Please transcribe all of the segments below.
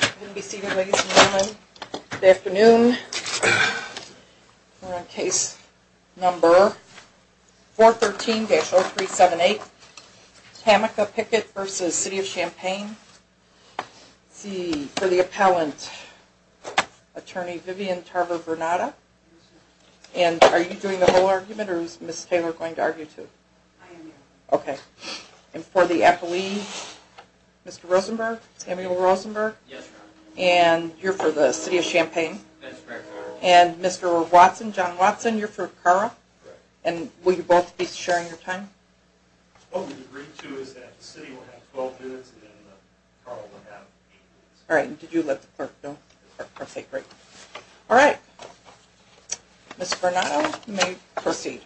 Good afternoon. We're on case number 413-0378, Tammaca Pickett v. City of Champaign for the appellant attorney Vivian Tarver-Vernada. And are you doing the whole argument or is Miss Taylor going to argue too? Okay. And for the appellee, Mr. Rosenberg, Samuel Rosenberg? Yes, ma'am. And you're for the City of Champaign? That's correct, ma'am. And Mr. Watson, John Watson, you're for Carle? Correct. And will you both be sharing your time? What we've agreed to is that the City will have 12 minutes and Carle will have 8 minutes. Alright, and did you let the clerk know? Yes, ma'am. Perfect, great. Alright, Ms. Vernado, you may proceed.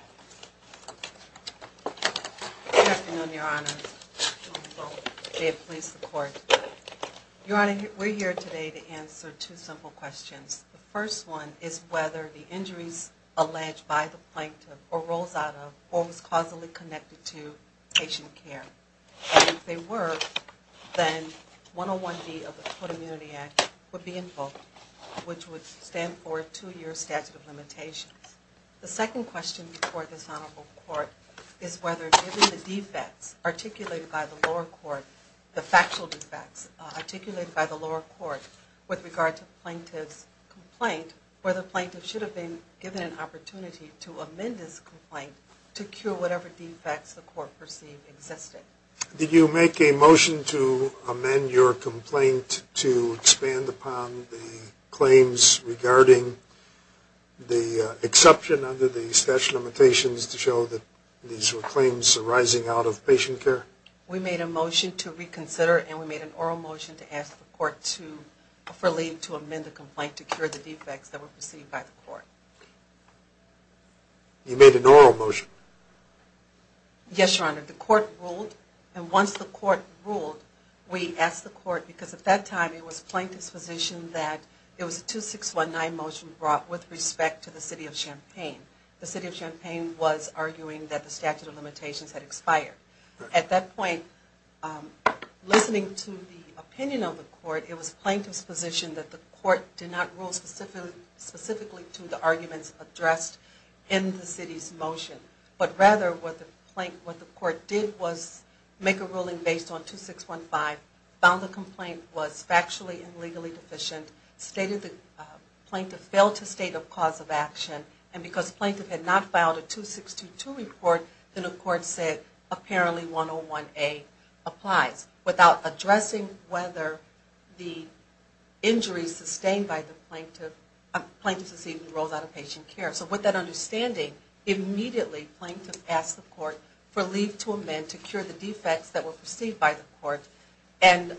Good afternoon, Your Honor. May it please the Court. Your Honor, we're here today to answer two simple questions. The first one is whether the injuries alleged by the plaintiff or rose out of or was causally connected to patient care. And if they were, then 101-D of the Court Immunity Act would be invoked, which would stand for a two-year statute of limitations. The second question before this Honorable Court is whether, given the defects articulated by the lower court, the factual defects articulated by the lower court, with regard to the plaintiff's complaint, whether the plaintiff should have been given an opportunity to amend his complaint to cure whatever defects the court perceived existed. Did you make a motion to amend your complaint to expand upon the claims regarding the exception under the statute of limitations to show that these were claims arising out of patient care? We made a motion to reconsider and we made an oral motion to ask the Court to, for leave to amend the complaint to cure the defects that were perceived by the Court. You made an oral motion? Yes, Your Honor. The Court ruled, and once the Court ruled, we asked the Court, because at that time it was the plaintiff's position that it was a 2619 motion brought with respect to the City of Champaign. The City of Champaign was arguing that the statute of limitations had expired. At that point, listening to the opinion of the Court, it was the plaintiff's position that the Court did not rule specifically to the arguments addressed in the City's motion, but rather what the Court did was make a ruling based on 2615, found the complaint was factually and legally deficient, stated the plaintiff failed to state a cause of action, and because the plaintiff had not filed a 2622 report, then the Court said apparently 101A applies, without addressing whether the injuries sustained by the plaintiff, plaintiffs receiving rolls out of patient care. So with that understanding, immediately the plaintiff asked the Court for leave to amend to cure the defects that were perceived by the Court, and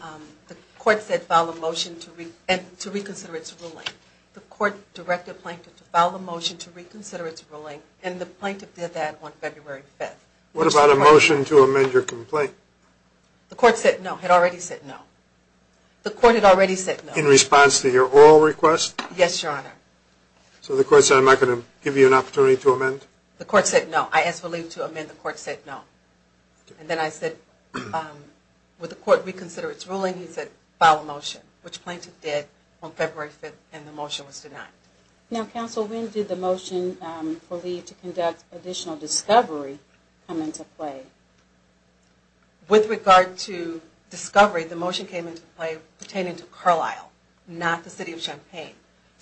the Court said file a motion to reconsider its ruling. The Court directed the plaintiff to file a motion to reconsider its ruling, and the plaintiff did that on February 5th. What about a motion to amend your complaint? The Court said no, had already said no. The Court had already said no. In response to your oral request? Yes, Your Honor. So the Court said, I'm not going to give you an opportunity to amend? The Court said no. I asked for leave to amend. The Court said no. And then I said, would the Court reconsider its ruling? He said, file a motion, which the plaintiff did on February 5th, and the motion was denied. Now, Counsel, when did the motion for leave to conduct additional discovery come into play? With regard to discovery, the motion came into play pertaining to Carlisle, not the City of Champaign.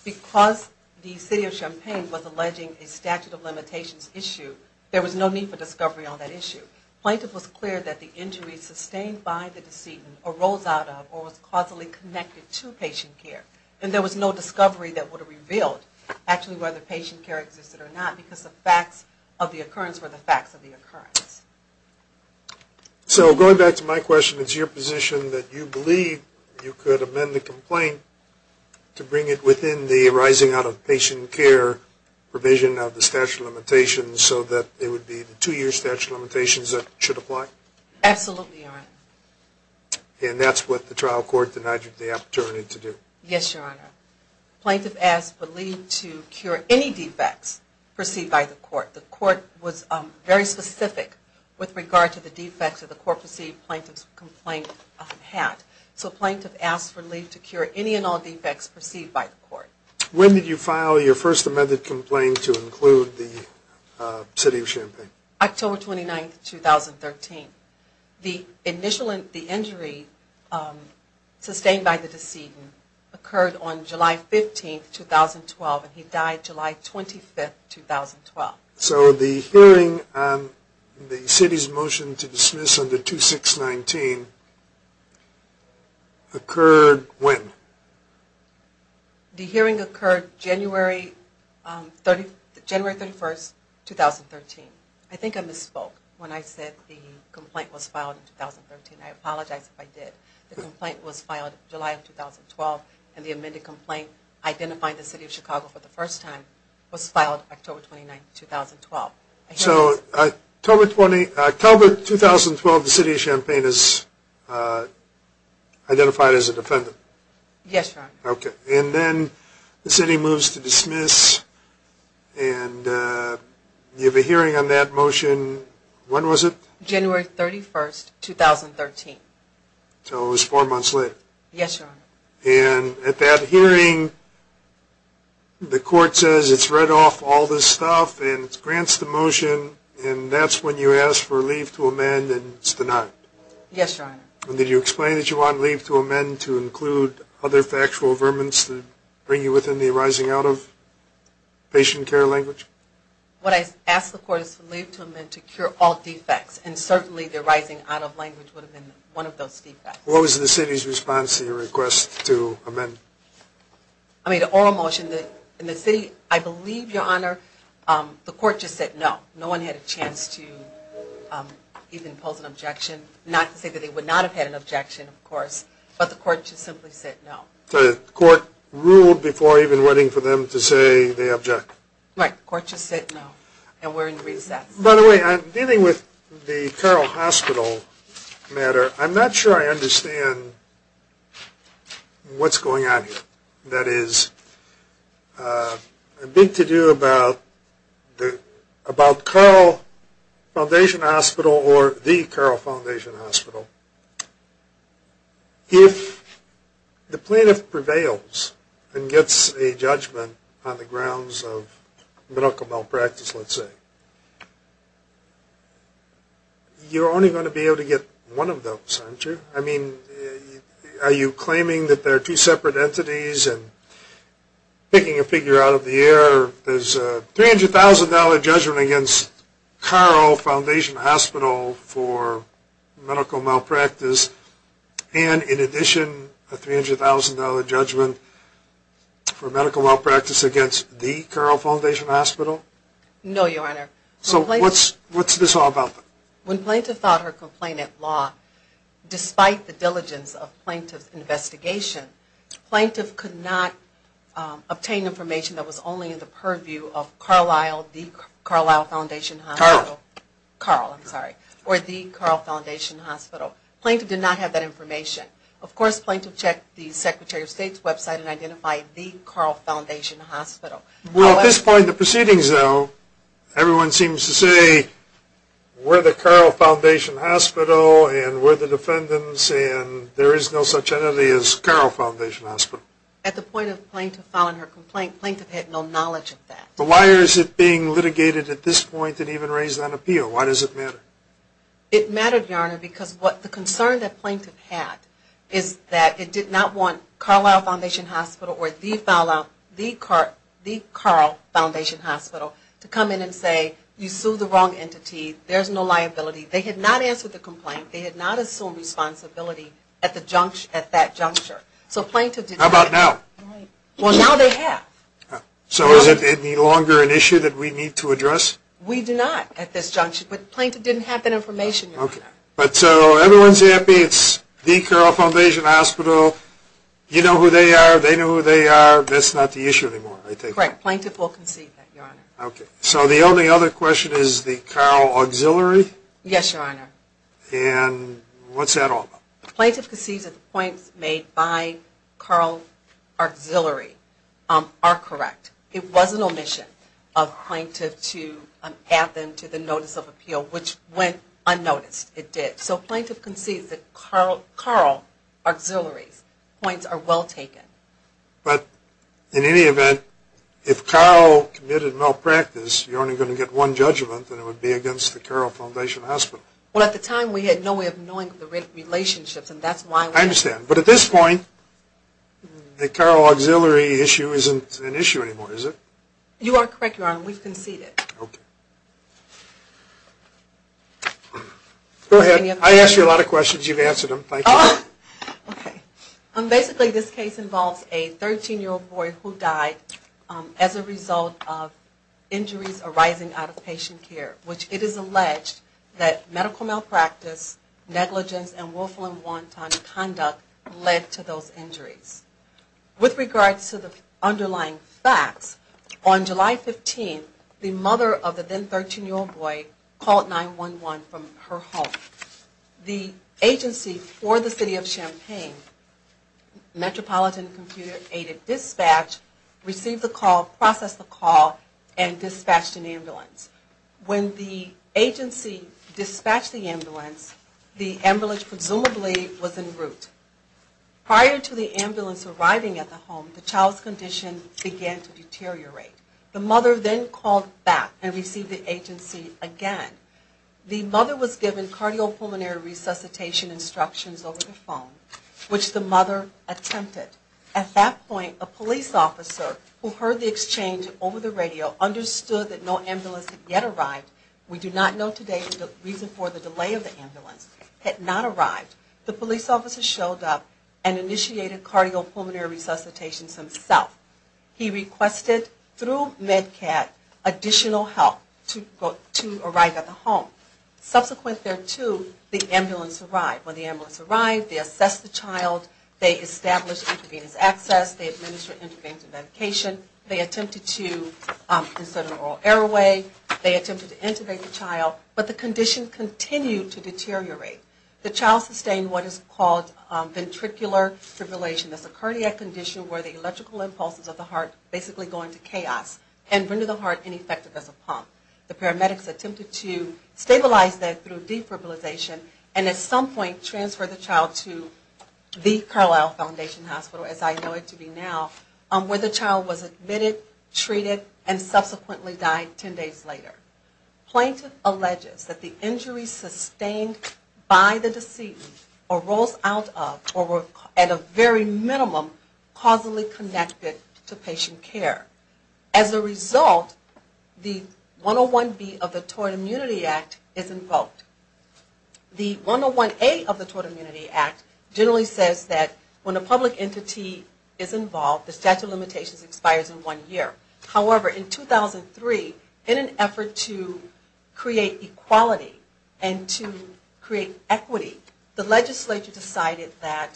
Because the City of Champaign was alleging a statute of limitations issue, there was no need for discovery on that issue. Plaintiff was clear that the injuries sustained by the decedent arose out of or was causally connected to patient care, and there was no discovery that would have revealed actually whether patient care existed or not, because the facts of the occurrence were the facts of the occurrence. So going back to my question, it's your position that you believe you could amend the complaint to bring it within the rising out of patient care provision of the statute of limitations, so that it would be the two-year statute of limitations that should apply? Absolutely, Your Honor. And that's what the trial court denied you the opportunity to do? Yes, Your Honor. Plaintiff asked for leave to cure any defects perceived by the court. The court was very specific with regard to the defects that the court perceived plaintiff's complaint had. So plaintiff asked for leave to cure any and all defects perceived by the court. When did you file your first amended complaint to include the City of Champaign? October 29, 2013. The initial injury sustained by the decedent occurred on July 15, 2012, and he died July 25, 2012. So the hearing on the City's motion to dismiss under 2619 occurred when? The hearing occurred January 31, 2013. I think I misspoke when I said the complaint was filed in 2013. I apologize if I did. The complaint was filed July of 2012, and the amended complaint identifying the City of Chicago for the first time was filed October 29, 2012. So October 2012, the City of Champaign is identified as a defendant? Yes, Your Honor. Okay, and then the City moves to dismiss, and you have a hearing on that motion. When was it? January 31, 2013. So it was four months later? Yes, Your Honor. And at that hearing, the court says it's read off all this stuff and grants the motion, and that's when you ask for leave to amend, and it's denied? Yes, Your Honor. And did you explain that you wanted leave to amend to include other factual vermin to bring you within the rising out of patient care language? What I asked the court is for leave to amend to cure all defects, and certainly the rising out of language would have been one of those defects. What was the City's response to your request to amend? I made an oral motion. In the City, I believe, Your Honor, the court just said no. No one had a chance to even pose an objection, not to say that they would not have had an objection, of course, but the court just simply said no. The court ruled before even waiting for them to say they object? Right. The court just said no, and we're in recess. By the way, dealing with the Carroll Hospital matter, I'm not sure I understand what's going on here. I think that is big to do about the Carroll Foundation Hospital or the Carroll Foundation Hospital. If the plaintiff prevails and gets a judgment on the grounds of medical malpractice, let's say, you're only going to be able to get one of those, aren't you? I mean, are you claiming that there are two separate entities and picking a figure out of the air? There's a $300,000 judgment against Carroll Foundation Hospital for medical malpractice and, in addition, a $300,000 judgment for medical malpractice against the Carroll Foundation Hospital? No, Your Honor. So what's this all about? When plaintiff filed her complaint at law, despite the diligence of plaintiff's investigation, plaintiff could not obtain information that was only in the purview of Carlisle, the Carlisle Foundation Hospital. Carl. Carl, I'm sorry. Or the Carl Foundation Hospital. Plaintiff did not have that information. Of course, plaintiff checked the Secretary of State's website and identified the Carl Foundation Hospital. Well, at this point in the proceedings, though, everyone seems to say we're the Carroll Foundation Hospital and we're the defendants and there is no such entity as Carroll Foundation Hospital. At the point of plaintiff filing her complaint, plaintiff had no knowledge of that. But why is it being litigated at this point and even raised on appeal? Why does it matter? It mattered, Your Honor, because the concern that plaintiff had is that it did not want Carlisle Foundation Hospital or the Carl Foundation Hospital to come in and say, you sued the wrong entity, there's no liability. They had not answered the complaint. They had not assumed responsibility at that juncture. How about now? Well, now they have. So is it any longer an issue that we need to address? We do not at this juncture. But plaintiff didn't have that information, Your Honor. But so everyone's happy, it's the Carl Foundation Hospital. You know who they are, they know who they are. That's not the issue anymore, I think. Correct. Plaintiff will concede that, Your Honor. Okay. So the only other question is the Carl auxiliary? Yes, Your Honor. And what's that all about? Plaintiff concedes that the points made by Carl auxiliary are correct. It was an omission of plaintiff to add them to the notice of appeal, which went unnoticed. It did. So plaintiff concedes that Carl auxiliary's points are well taken. But in any event, if Carl committed malpractice, you're only going to get one judgment, and it would be against the Carl Foundation Hospital. Well, at the time, we had no way of knowing the relationships, and that's why we... I understand. But at this point, the Carl auxiliary issue isn't an issue anymore, is it? You are correct, Your Honor. We've conceded. Okay. Go ahead. I asked you a lot of questions. You've answered them. Thank you. Okay. Basically, this case involves a 13-year-old boy who died as a result of injuries arising out of patient care, which it is alleged that medical malpractice, negligence, and willful and wanton conduct led to those injuries. With regards to the underlying facts, on July 15th, the mother of the then 13-year-old boy called 911 from her home. The agency for the city of Champaign, Metropolitan Computer Aided Dispatch, received the call, processed the call, and dispatched an ambulance. When the agency dispatched the ambulance, the ambulance presumably was en route. Prior to the ambulance arriving at the home, the child's condition began to deteriorate. The mother then called back and received the agency again. The mother was given cardiopulmonary resuscitation instructions over the phone, which the mother attempted. At that point, a police officer who heard the exchange over the radio understood that no ambulance had yet arrived. We do not know today the reason for the delay of the ambulance had not arrived. The police officer showed up and initiated cardiopulmonary resuscitation himself. He requested, through MedCat, additional help to arrive at the home. Subsequent thereto, the ambulance arrived. When the ambulance arrived, they assessed the child, they established intravenous access, they administered intravenous medication, they attempted to consider oral airway, they attempted to intubate the child, but the condition continued to deteriorate. The child sustained what is called ventricular fibrillation. Ventricular fibrillation is a cardiac condition where the electrical impulses of the heart basically go into chaos and render the heart ineffective as a pump. The paramedics attempted to stabilize that through defibrillation and at some point transfer the child to the Carlisle Foundation Hospital, as I know it to be now, where the child was admitted, treated, and subsequently died 10 days later. Plaintiff alleges that the injuries sustained by the deceitful arose out of or were at a very minimum causally connected to patient care. As a result, the 101B of the Tort Immunity Act is invoked. The 101A of the Tort Immunity Act generally says that when a public entity is involved, the statute of limitations expires in one year. However, in 2003, in an effort to create equality and to create equity, the legislature decided that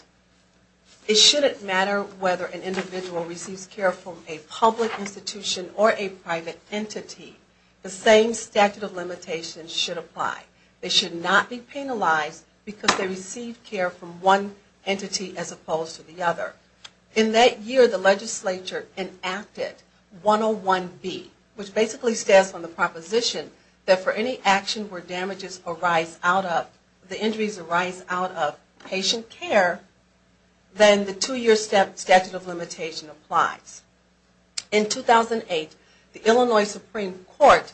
it shouldn't matter whether an individual receives care from a public institution or a private entity. The same statute of limitations should apply. They should not be penalized because they received care from one entity as opposed to the other. In that year, the legislature enacted 101B, which basically stands on the proposition that for any action where the injuries arise out of patient care, then the two-year statute of limitations applies. In 2008, the Illinois Supreme Court,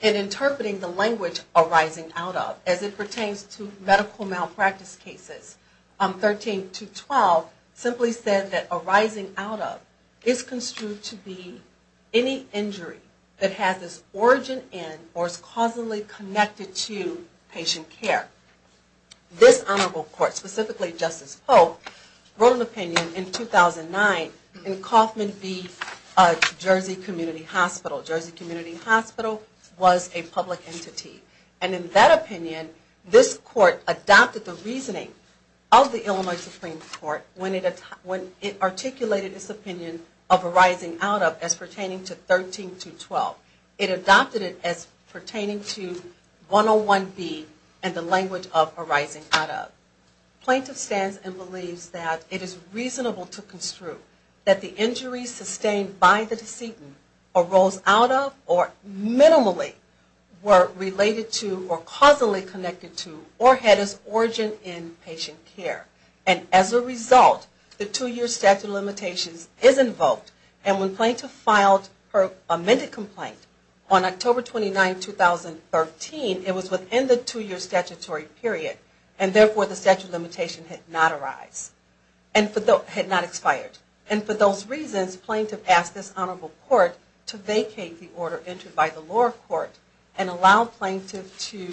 in interpreting the language arising out of, as it pertains to medical malpractice cases 13 to 12, simply said that arising out of is construed to be any injury that has its origin in or is causally connected to patient care. This honorable court, specifically Justice Pope, wrote an opinion in 2009 in Coffman v. Jersey Community Hospital. Jersey Community Hospital was a public entity. In that opinion, this court adopted the reasoning of the Illinois Supreme Court when it articulated its opinion of arising out of as pertaining to 13 to 12. It adopted it as pertaining to 101B and the language of arising out of. Plaintiff stands and believes that it is reasonable to construe that the injuries sustained by the decedent arose out of or minimally were related to or causally connected to or had its origin in patient care. And as a result, the two-year statute of limitations is invoked. And when plaintiff filed her amended complaint on October 29, 2013, it was within the two-year statutory period, and therefore the statute of limitation had not arised, had not expired. And for those reasons, plaintiff asked this honorable court to vacate the order entered by the lower court and allow plaintiff to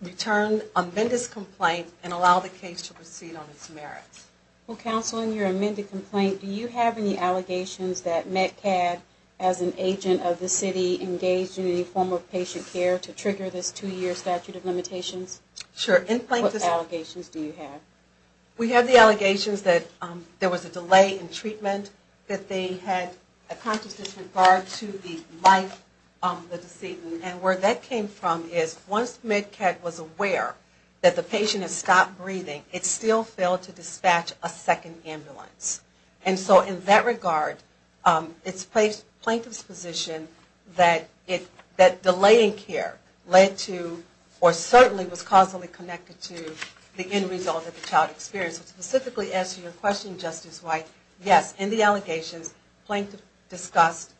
return, amend his complaint, and allow the case to proceed on its merits. Well, Counsel, in your amended complaint, do you have any allegations that MedCAD, as an agent of the city, engaged in any form of patient care to trigger this two-year statute of limitations? Sure. What allegations do you have? We have the allegations that there was a delay in treatment, that they had a conscious disregard to the life of the decedent. And where that came from is once MedCAD was aware that the patient had to dispatch a second ambulance. And so in that regard, it's plaintiff's position that delaying care led to, or certainly was causally connected to, the end result of the child experience. To specifically answer your question, Justice White, yes, in the allegations, plaintiff discussed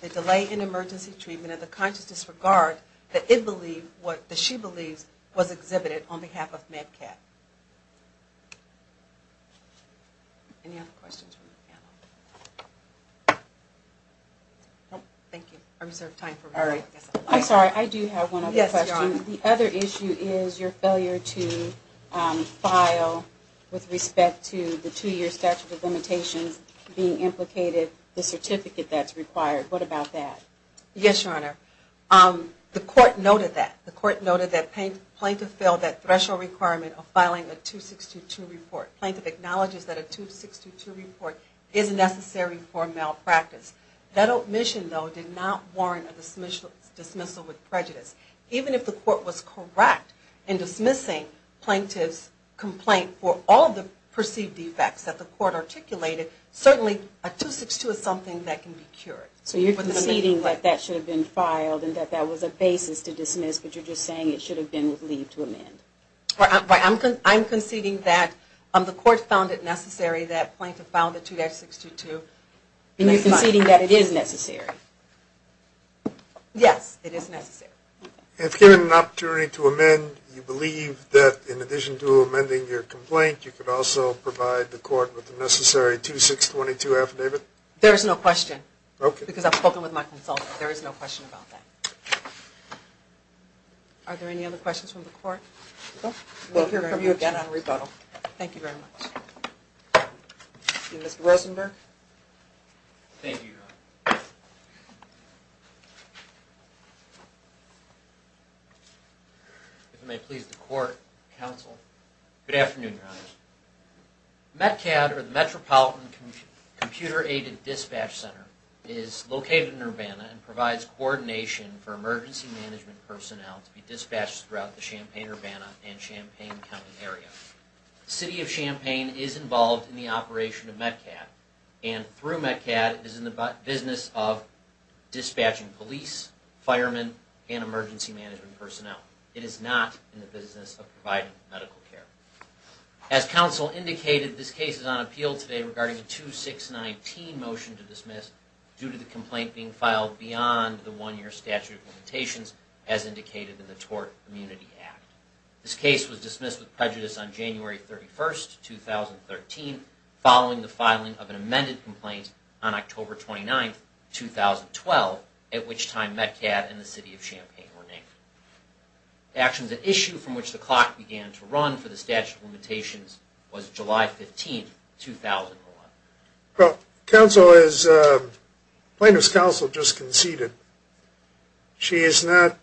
the delay in emergency treatment and the conscious disregard that it believed, what she believes was exhibited on behalf of MedCAD. Any other questions from the panel? Thank you. I reserve time for one more. I'm sorry, I do have one other question. Yes, Your Honor. The other issue is your failure to file with respect to the two-year statute of limitations being implicated, the certificate that's required. What about that? Yes, Your Honor. The court noted that. The court noted that plaintiff failed that threshold requirement of filing a 262 report. Plaintiff acknowledges that a 262 report is necessary for malpractice. That omission, though, did not warrant a dismissal with prejudice. Even if the court was correct in dismissing plaintiff's complaint for all the perceived defects that the court articulated, certainly a 262 is something that can be cured. So you're conceding that that should have been filed and that that was a basis to dismiss, but you're just saying it should have been with leave to amend. I'm conceding that the court found it necessary that plaintiff file the 262 too. And you're conceding that it is necessary? Yes, it is necessary. If given an opportunity to amend, you believe that in addition to amending your complaint, you could also provide the court with the necessary 2622 affidavit? There is no question. Okay. Because I've spoken with my consultant. There is no question about that. Are there any other questions from the court? We'll hear from you again on rebuttal. Thank you very much. Mr. Rosenberg. Thank you, Your Honor. If it may please the court, counsel. Good afternoon, Your Honor. METCAD, or the Metropolitan Computer-Aided Dispatch Center, is located in Urbana and provides coordination for emergency management personnel to be dispatched throughout the Champaign-Urbana and Champaign County area. The City of Champaign is involved in the operation of METCAD and through METCAD is in the business of dispatching police, firemen, and emergency management personnel. It is not in the business of providing medical care. As counsel indicated, this case is on appeal today regarding a 2619 motion to dismiss due to the complaint being filed beyond the one-year statute of limitations as indicated in the Tort Immunity Act. This case was dismissed with prejudice on January 31, 2013, following the filing of an amended complaint on October 29, 2012, at which time METCAD and the City of Champaign were named. Actually, the issue from which the clock began to run for the statute of limitations was July 15, 2001. Well, counsel, as plaintiff's counsel just conceded, she is not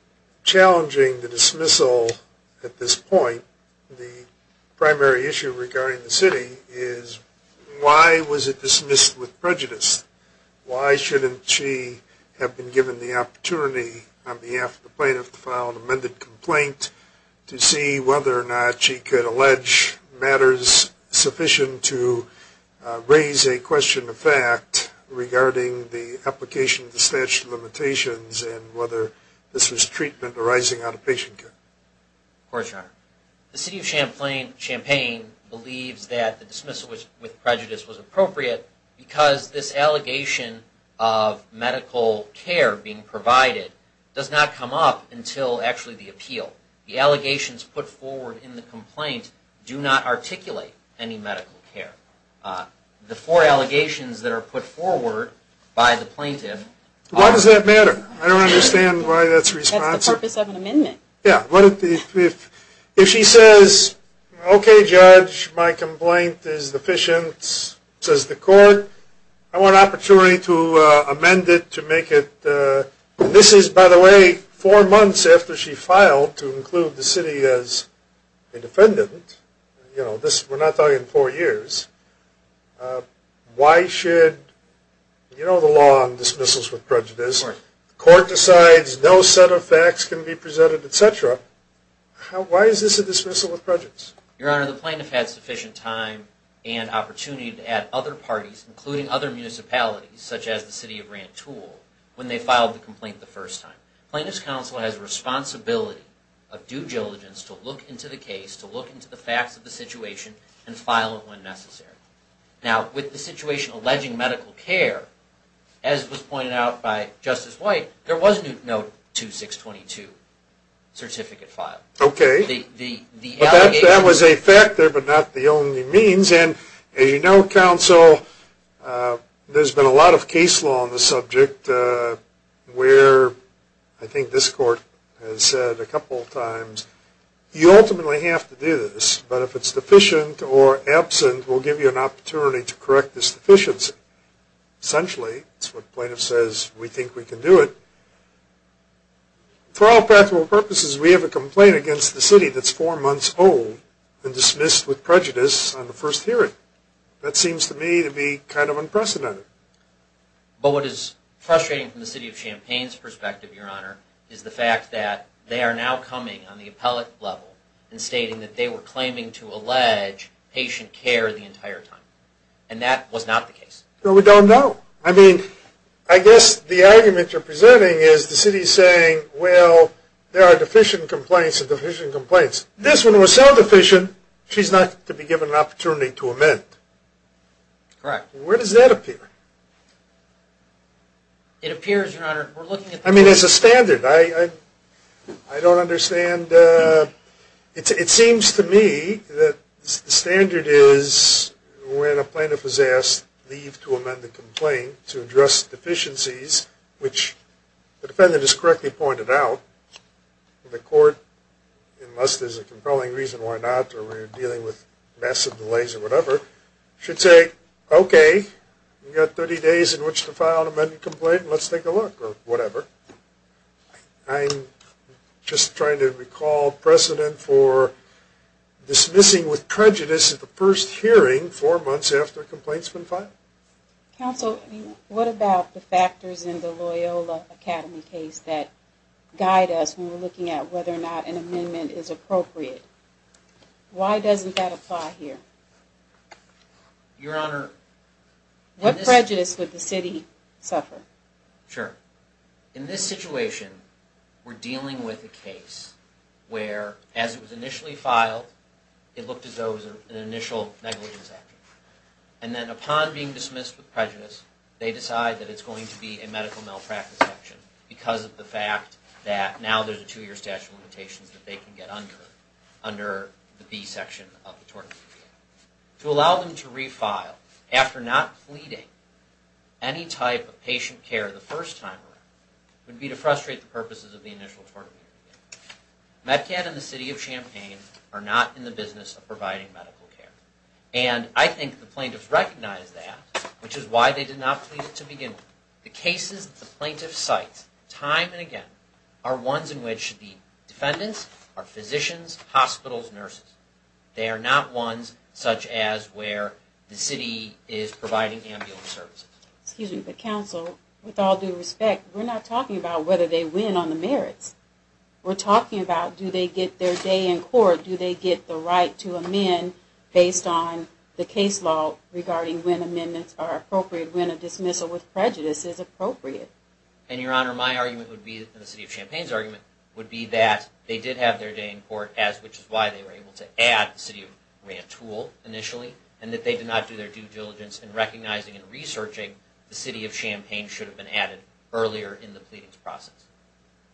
challenging the dismissal at this point. The primary issue regarding the city is why was it dismissed with prejudice? Why shouldn't she have been given the opportunity on behalf of the plaintiff to file an amended complaint to see whether or not she could allege matters sufficient to raise a question of fact regarding the application of the statute of limitations and whether this was treatment arising out of patient care? Of course, Your Honor. The City of Champaign believes that the dismissal with prejudice was appropriate because this allegation of medical care being provided does not come up until actually the appeal. The allegations put forward in the complaint do not articulate any medical care. The four allegations that are put forward by the plaintiff are... Why does that matter? I don't understand why that's responsive. That's the purpose of an amendment. Yeah. If she says, okay, judge, my complaint is deficient, says the court, I want an opportunity to amend it to make it... This is, by the way, four months after she filed to include the city as a defendant. We're not talking four years. Why should... You know the law on dismissals with prejudice. The court decides no set of facts can be presented, et cetera. Why is this a dismissal with prejudice? Your Honor, the plaintiff had sufficient time and opportunity to add other parties, including other municipalities such as the City of Rantoul, when they filed the complaint the first time. Plaintiff's counsel has a responsibility of due diligence to look into the case, to look into the facts of the situation, and file it when necessary. Now, with the situation alleging medical care, as was pointed out by Justice White, there was no 2622 certificate filed. Okay. That was a factor, but not the only means. And, as you know, counsel, there's been a lot of case law on the subject where I think this court has said a couple of times, you ultimately have to do this, but if it's deficient or absent, we'll give you an opportunity to correct this deficiency. Essentially, that's what the plaintiff says, we think we can do it. For all practical purposes, we have a complaint against the city that's four months old and dismissed with prejudice on the first hearing. That seems to me to be kind of unprecedented. But what is frustrating from the City of Champaign's perspective, Your Honor, is the fact that they are now coming on the appellate level and stating that they were claiming to allege patient care the entire time. And that was not the case. No, we don't know. I mean, I guess the argument you're presenting is the city saying, well, there are deficient complaints and deficient complaints. This one was so deficient, she's not to be given an opportunity to amend. Correct. Where does that appear? It appears, Your Honor, we're looking at the court. I mean, it's a standard. I don't understand. And it seems to me that the standard is when a plaintiff is asked to leave to amend the complaint to address deficiencies, which the defendant has correctly pointed out, the court, unless there's a compelling reason why not or we're dealing with massive delays or whatever, should say, okay, you've got 30 days in which to file an amended complaint, let's take a look or whatever. I'm just trying to recall precedent for dismissing with prejudice at the first hearing four months after a complaint's been filed. Counsel, what about the factors in the Loyola Academy case that guide us when we're looking at whether or not an amendment is appropriate? Why doesn't that apply here? Your Honor. What prejudice would the city suffer? Sure. In this situation, we're dealing with a case where, as it was initially filed, it looked as though it was an initial negligence action. And then upon being dismissed with prejudice, they decide that it's going to be a medical malpractice action because of the fact that now there's a two-year statute of limitations that they can get under under the B section of the tort committee. To allow them to refile after not pleading any type of patient care the first time around would be to frustrate the purposes of the initial tort committee. MedCat and the city of Champaign are not in the business of providing medical care. And I think the plaintiffs recognize that, which is why they did not plead it to begin with. The cases that the plaintiffs cite time and again are ones in which the defendants are physicians, hospitals, nurses. They are not ones such as where the city is providing ambulance services. Excuse me, but counsel, with all due respect, we're not talking about whether they win on the merits. We're talking about do they get their day in court, do they get the right to amend based on the case law regarding when amendments are appropriate, when a dismissal with prejudice is appropriate. And, Your Honor, my argument would be, and the city of Champaign's argument, would be that they did have their day in court, which is why they were able to add the city of Grantoul initially, and that they did not do their due diligence in recognizing and researching the city of Champaign should have been added earlier in the pleadings process.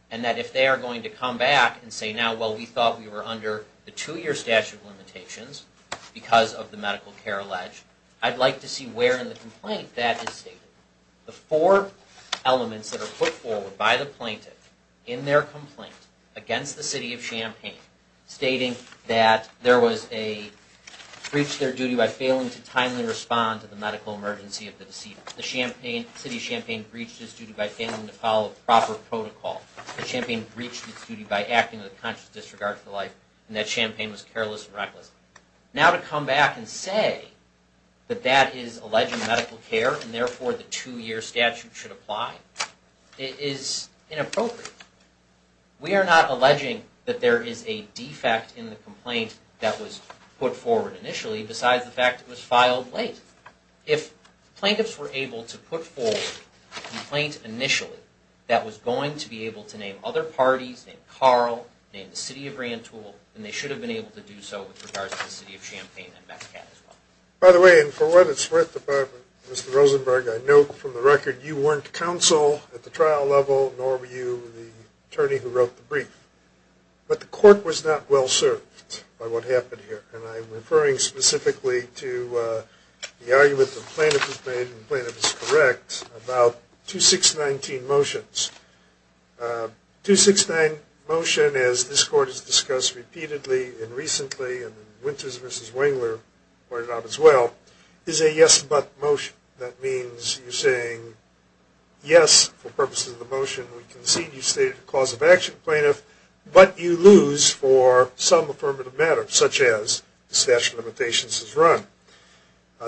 And that if they are going to come back and say, now, well, we thought we were under the two-year statute of limitations because of the medical care alleged, I'd like to see where in the complaint that is stated. The four elements that are put forward by the plaintiff in their complaint against the city of Champaign, stating that there was a breach of their duty by failing to timely respond to the medical emergency of the deceased. The city of Champaign breached its duty by failing to follow proper protocol. The Champaign breached its duty by acting with a conscious disregard for life, and that Champaign was careless and reckless. Now to come back and say that that is alleged medical care, and therefore the two-year statute should apply, is inappropriate. We are not alleging that there is a defect in the complaint that was put forward initially, besides the fact that it was filed late. If plaintiffs were able to put forward a complaint initially that was going to be able to name other parties, name Carl, name the city of Grantoul, then they should have been able to do so with regards to the city of Champaign and Metcalfe as well. By the way, and for what it's worth, Mr. Rosenberg, I know from the record you weren't counsel at the trial level, nor were you the attorney who wrote the brief. But the court was not well served by what happened here, and I'm referring specifically to the argument the plaintiff has made, and the plaintiff is correct, about 2619 motions. 269 motion, as this court has discussed repeatedly and recently, and Winters v. Wengler pointed out as well, is a yes-but motion. That means you're saying, yes, for purposes of the motion, we concede you stated a cause of action plaintiff, but you lose for some affirmative matter, such as the statute of limitations is run.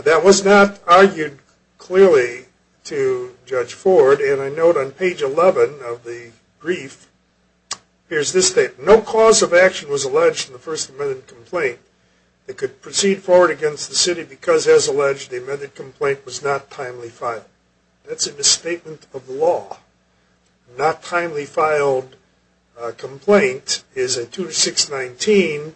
That was not argued clearly to Judge Ford, and I note on page 11 of the brief, here's this statement. No cause of action was alleged in the First Amendment complaint. It could proceed forward against the city because, as alleged, the amended complaint was not timely filed. That's a misstatement of the law. A not-timely-filed complaint is a 2619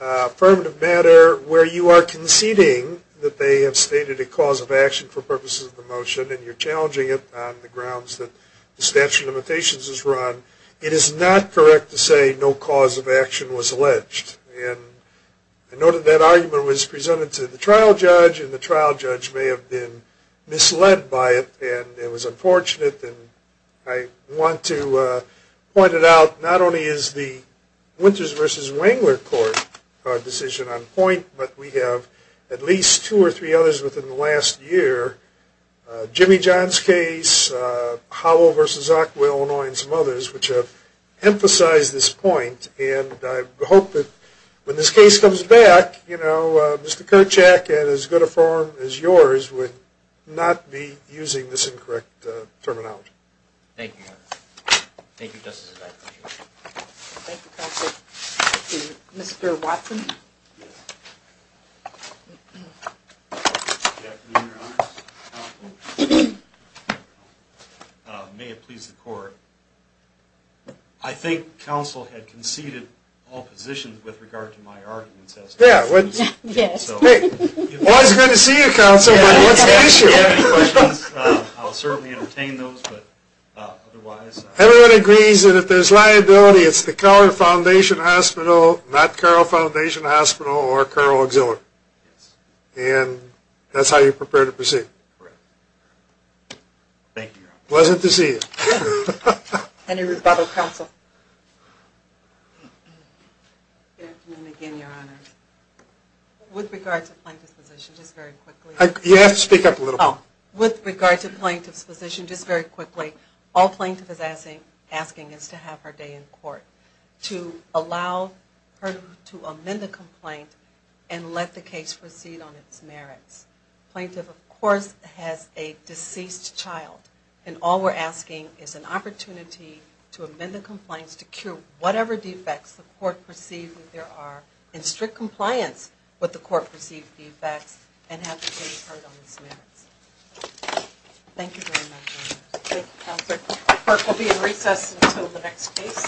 affirmative matter where you are conceding that they have stated a cause of action for purposes of the motion, and you're challenging it on the grounds that the statute of limitations is run. It is not correct to say no cause of action was alleged. I noted that argument was presented to the trial judge, and the trial judge may have been misled by it, and it was unfortunate. I want to point it out, not only is the Winters v. Wengler court decision on point, but we have at least two or three others within the last year, Jimmy John's case, Howell v. Ockwill, and some others, which have emphasized this point, and I hope that when this case comes back, Mr. Kerchak, in as good a form as yours, would not be using this incorrect terminology. Thank you, Your Honor. Thank you, Justice. Thank you, counsel. Mr. Watson. May it please the court. I think counsel had conceded all positions with regard to my arguments. Yes. It's always good to see you, counsel, but what's the issue? If you have any questions, I'll certainly entertain those, but otherwise... Everyone agrees that if there's liability, it's the Carle Foundation Hospital, not Carle Foundation Hospital or Carle Auxiliary. Thank you, Your Honor. Pleasant to see you. Any rebuttal, counsel? Good afternoon again, Your Honor. With regard to plaintiff's position, just very quickly... You have to speak up a little bit. With regard to plaintiff's position, just very quickly, all plaintiff is asking is to have her day in court, to allow her to amend the complaint and let the case proceed on its merits. Plaintiff, of course, has a deceased child, and all we're asking is an opportunity to amend the complaints to cure whatever defects the court perceives that there are in strict compliance with the court-perceived defects and have the case heard on its merits. Thank you very much, Your Honor. Thank you, counsel. Court will be in recess until the next case.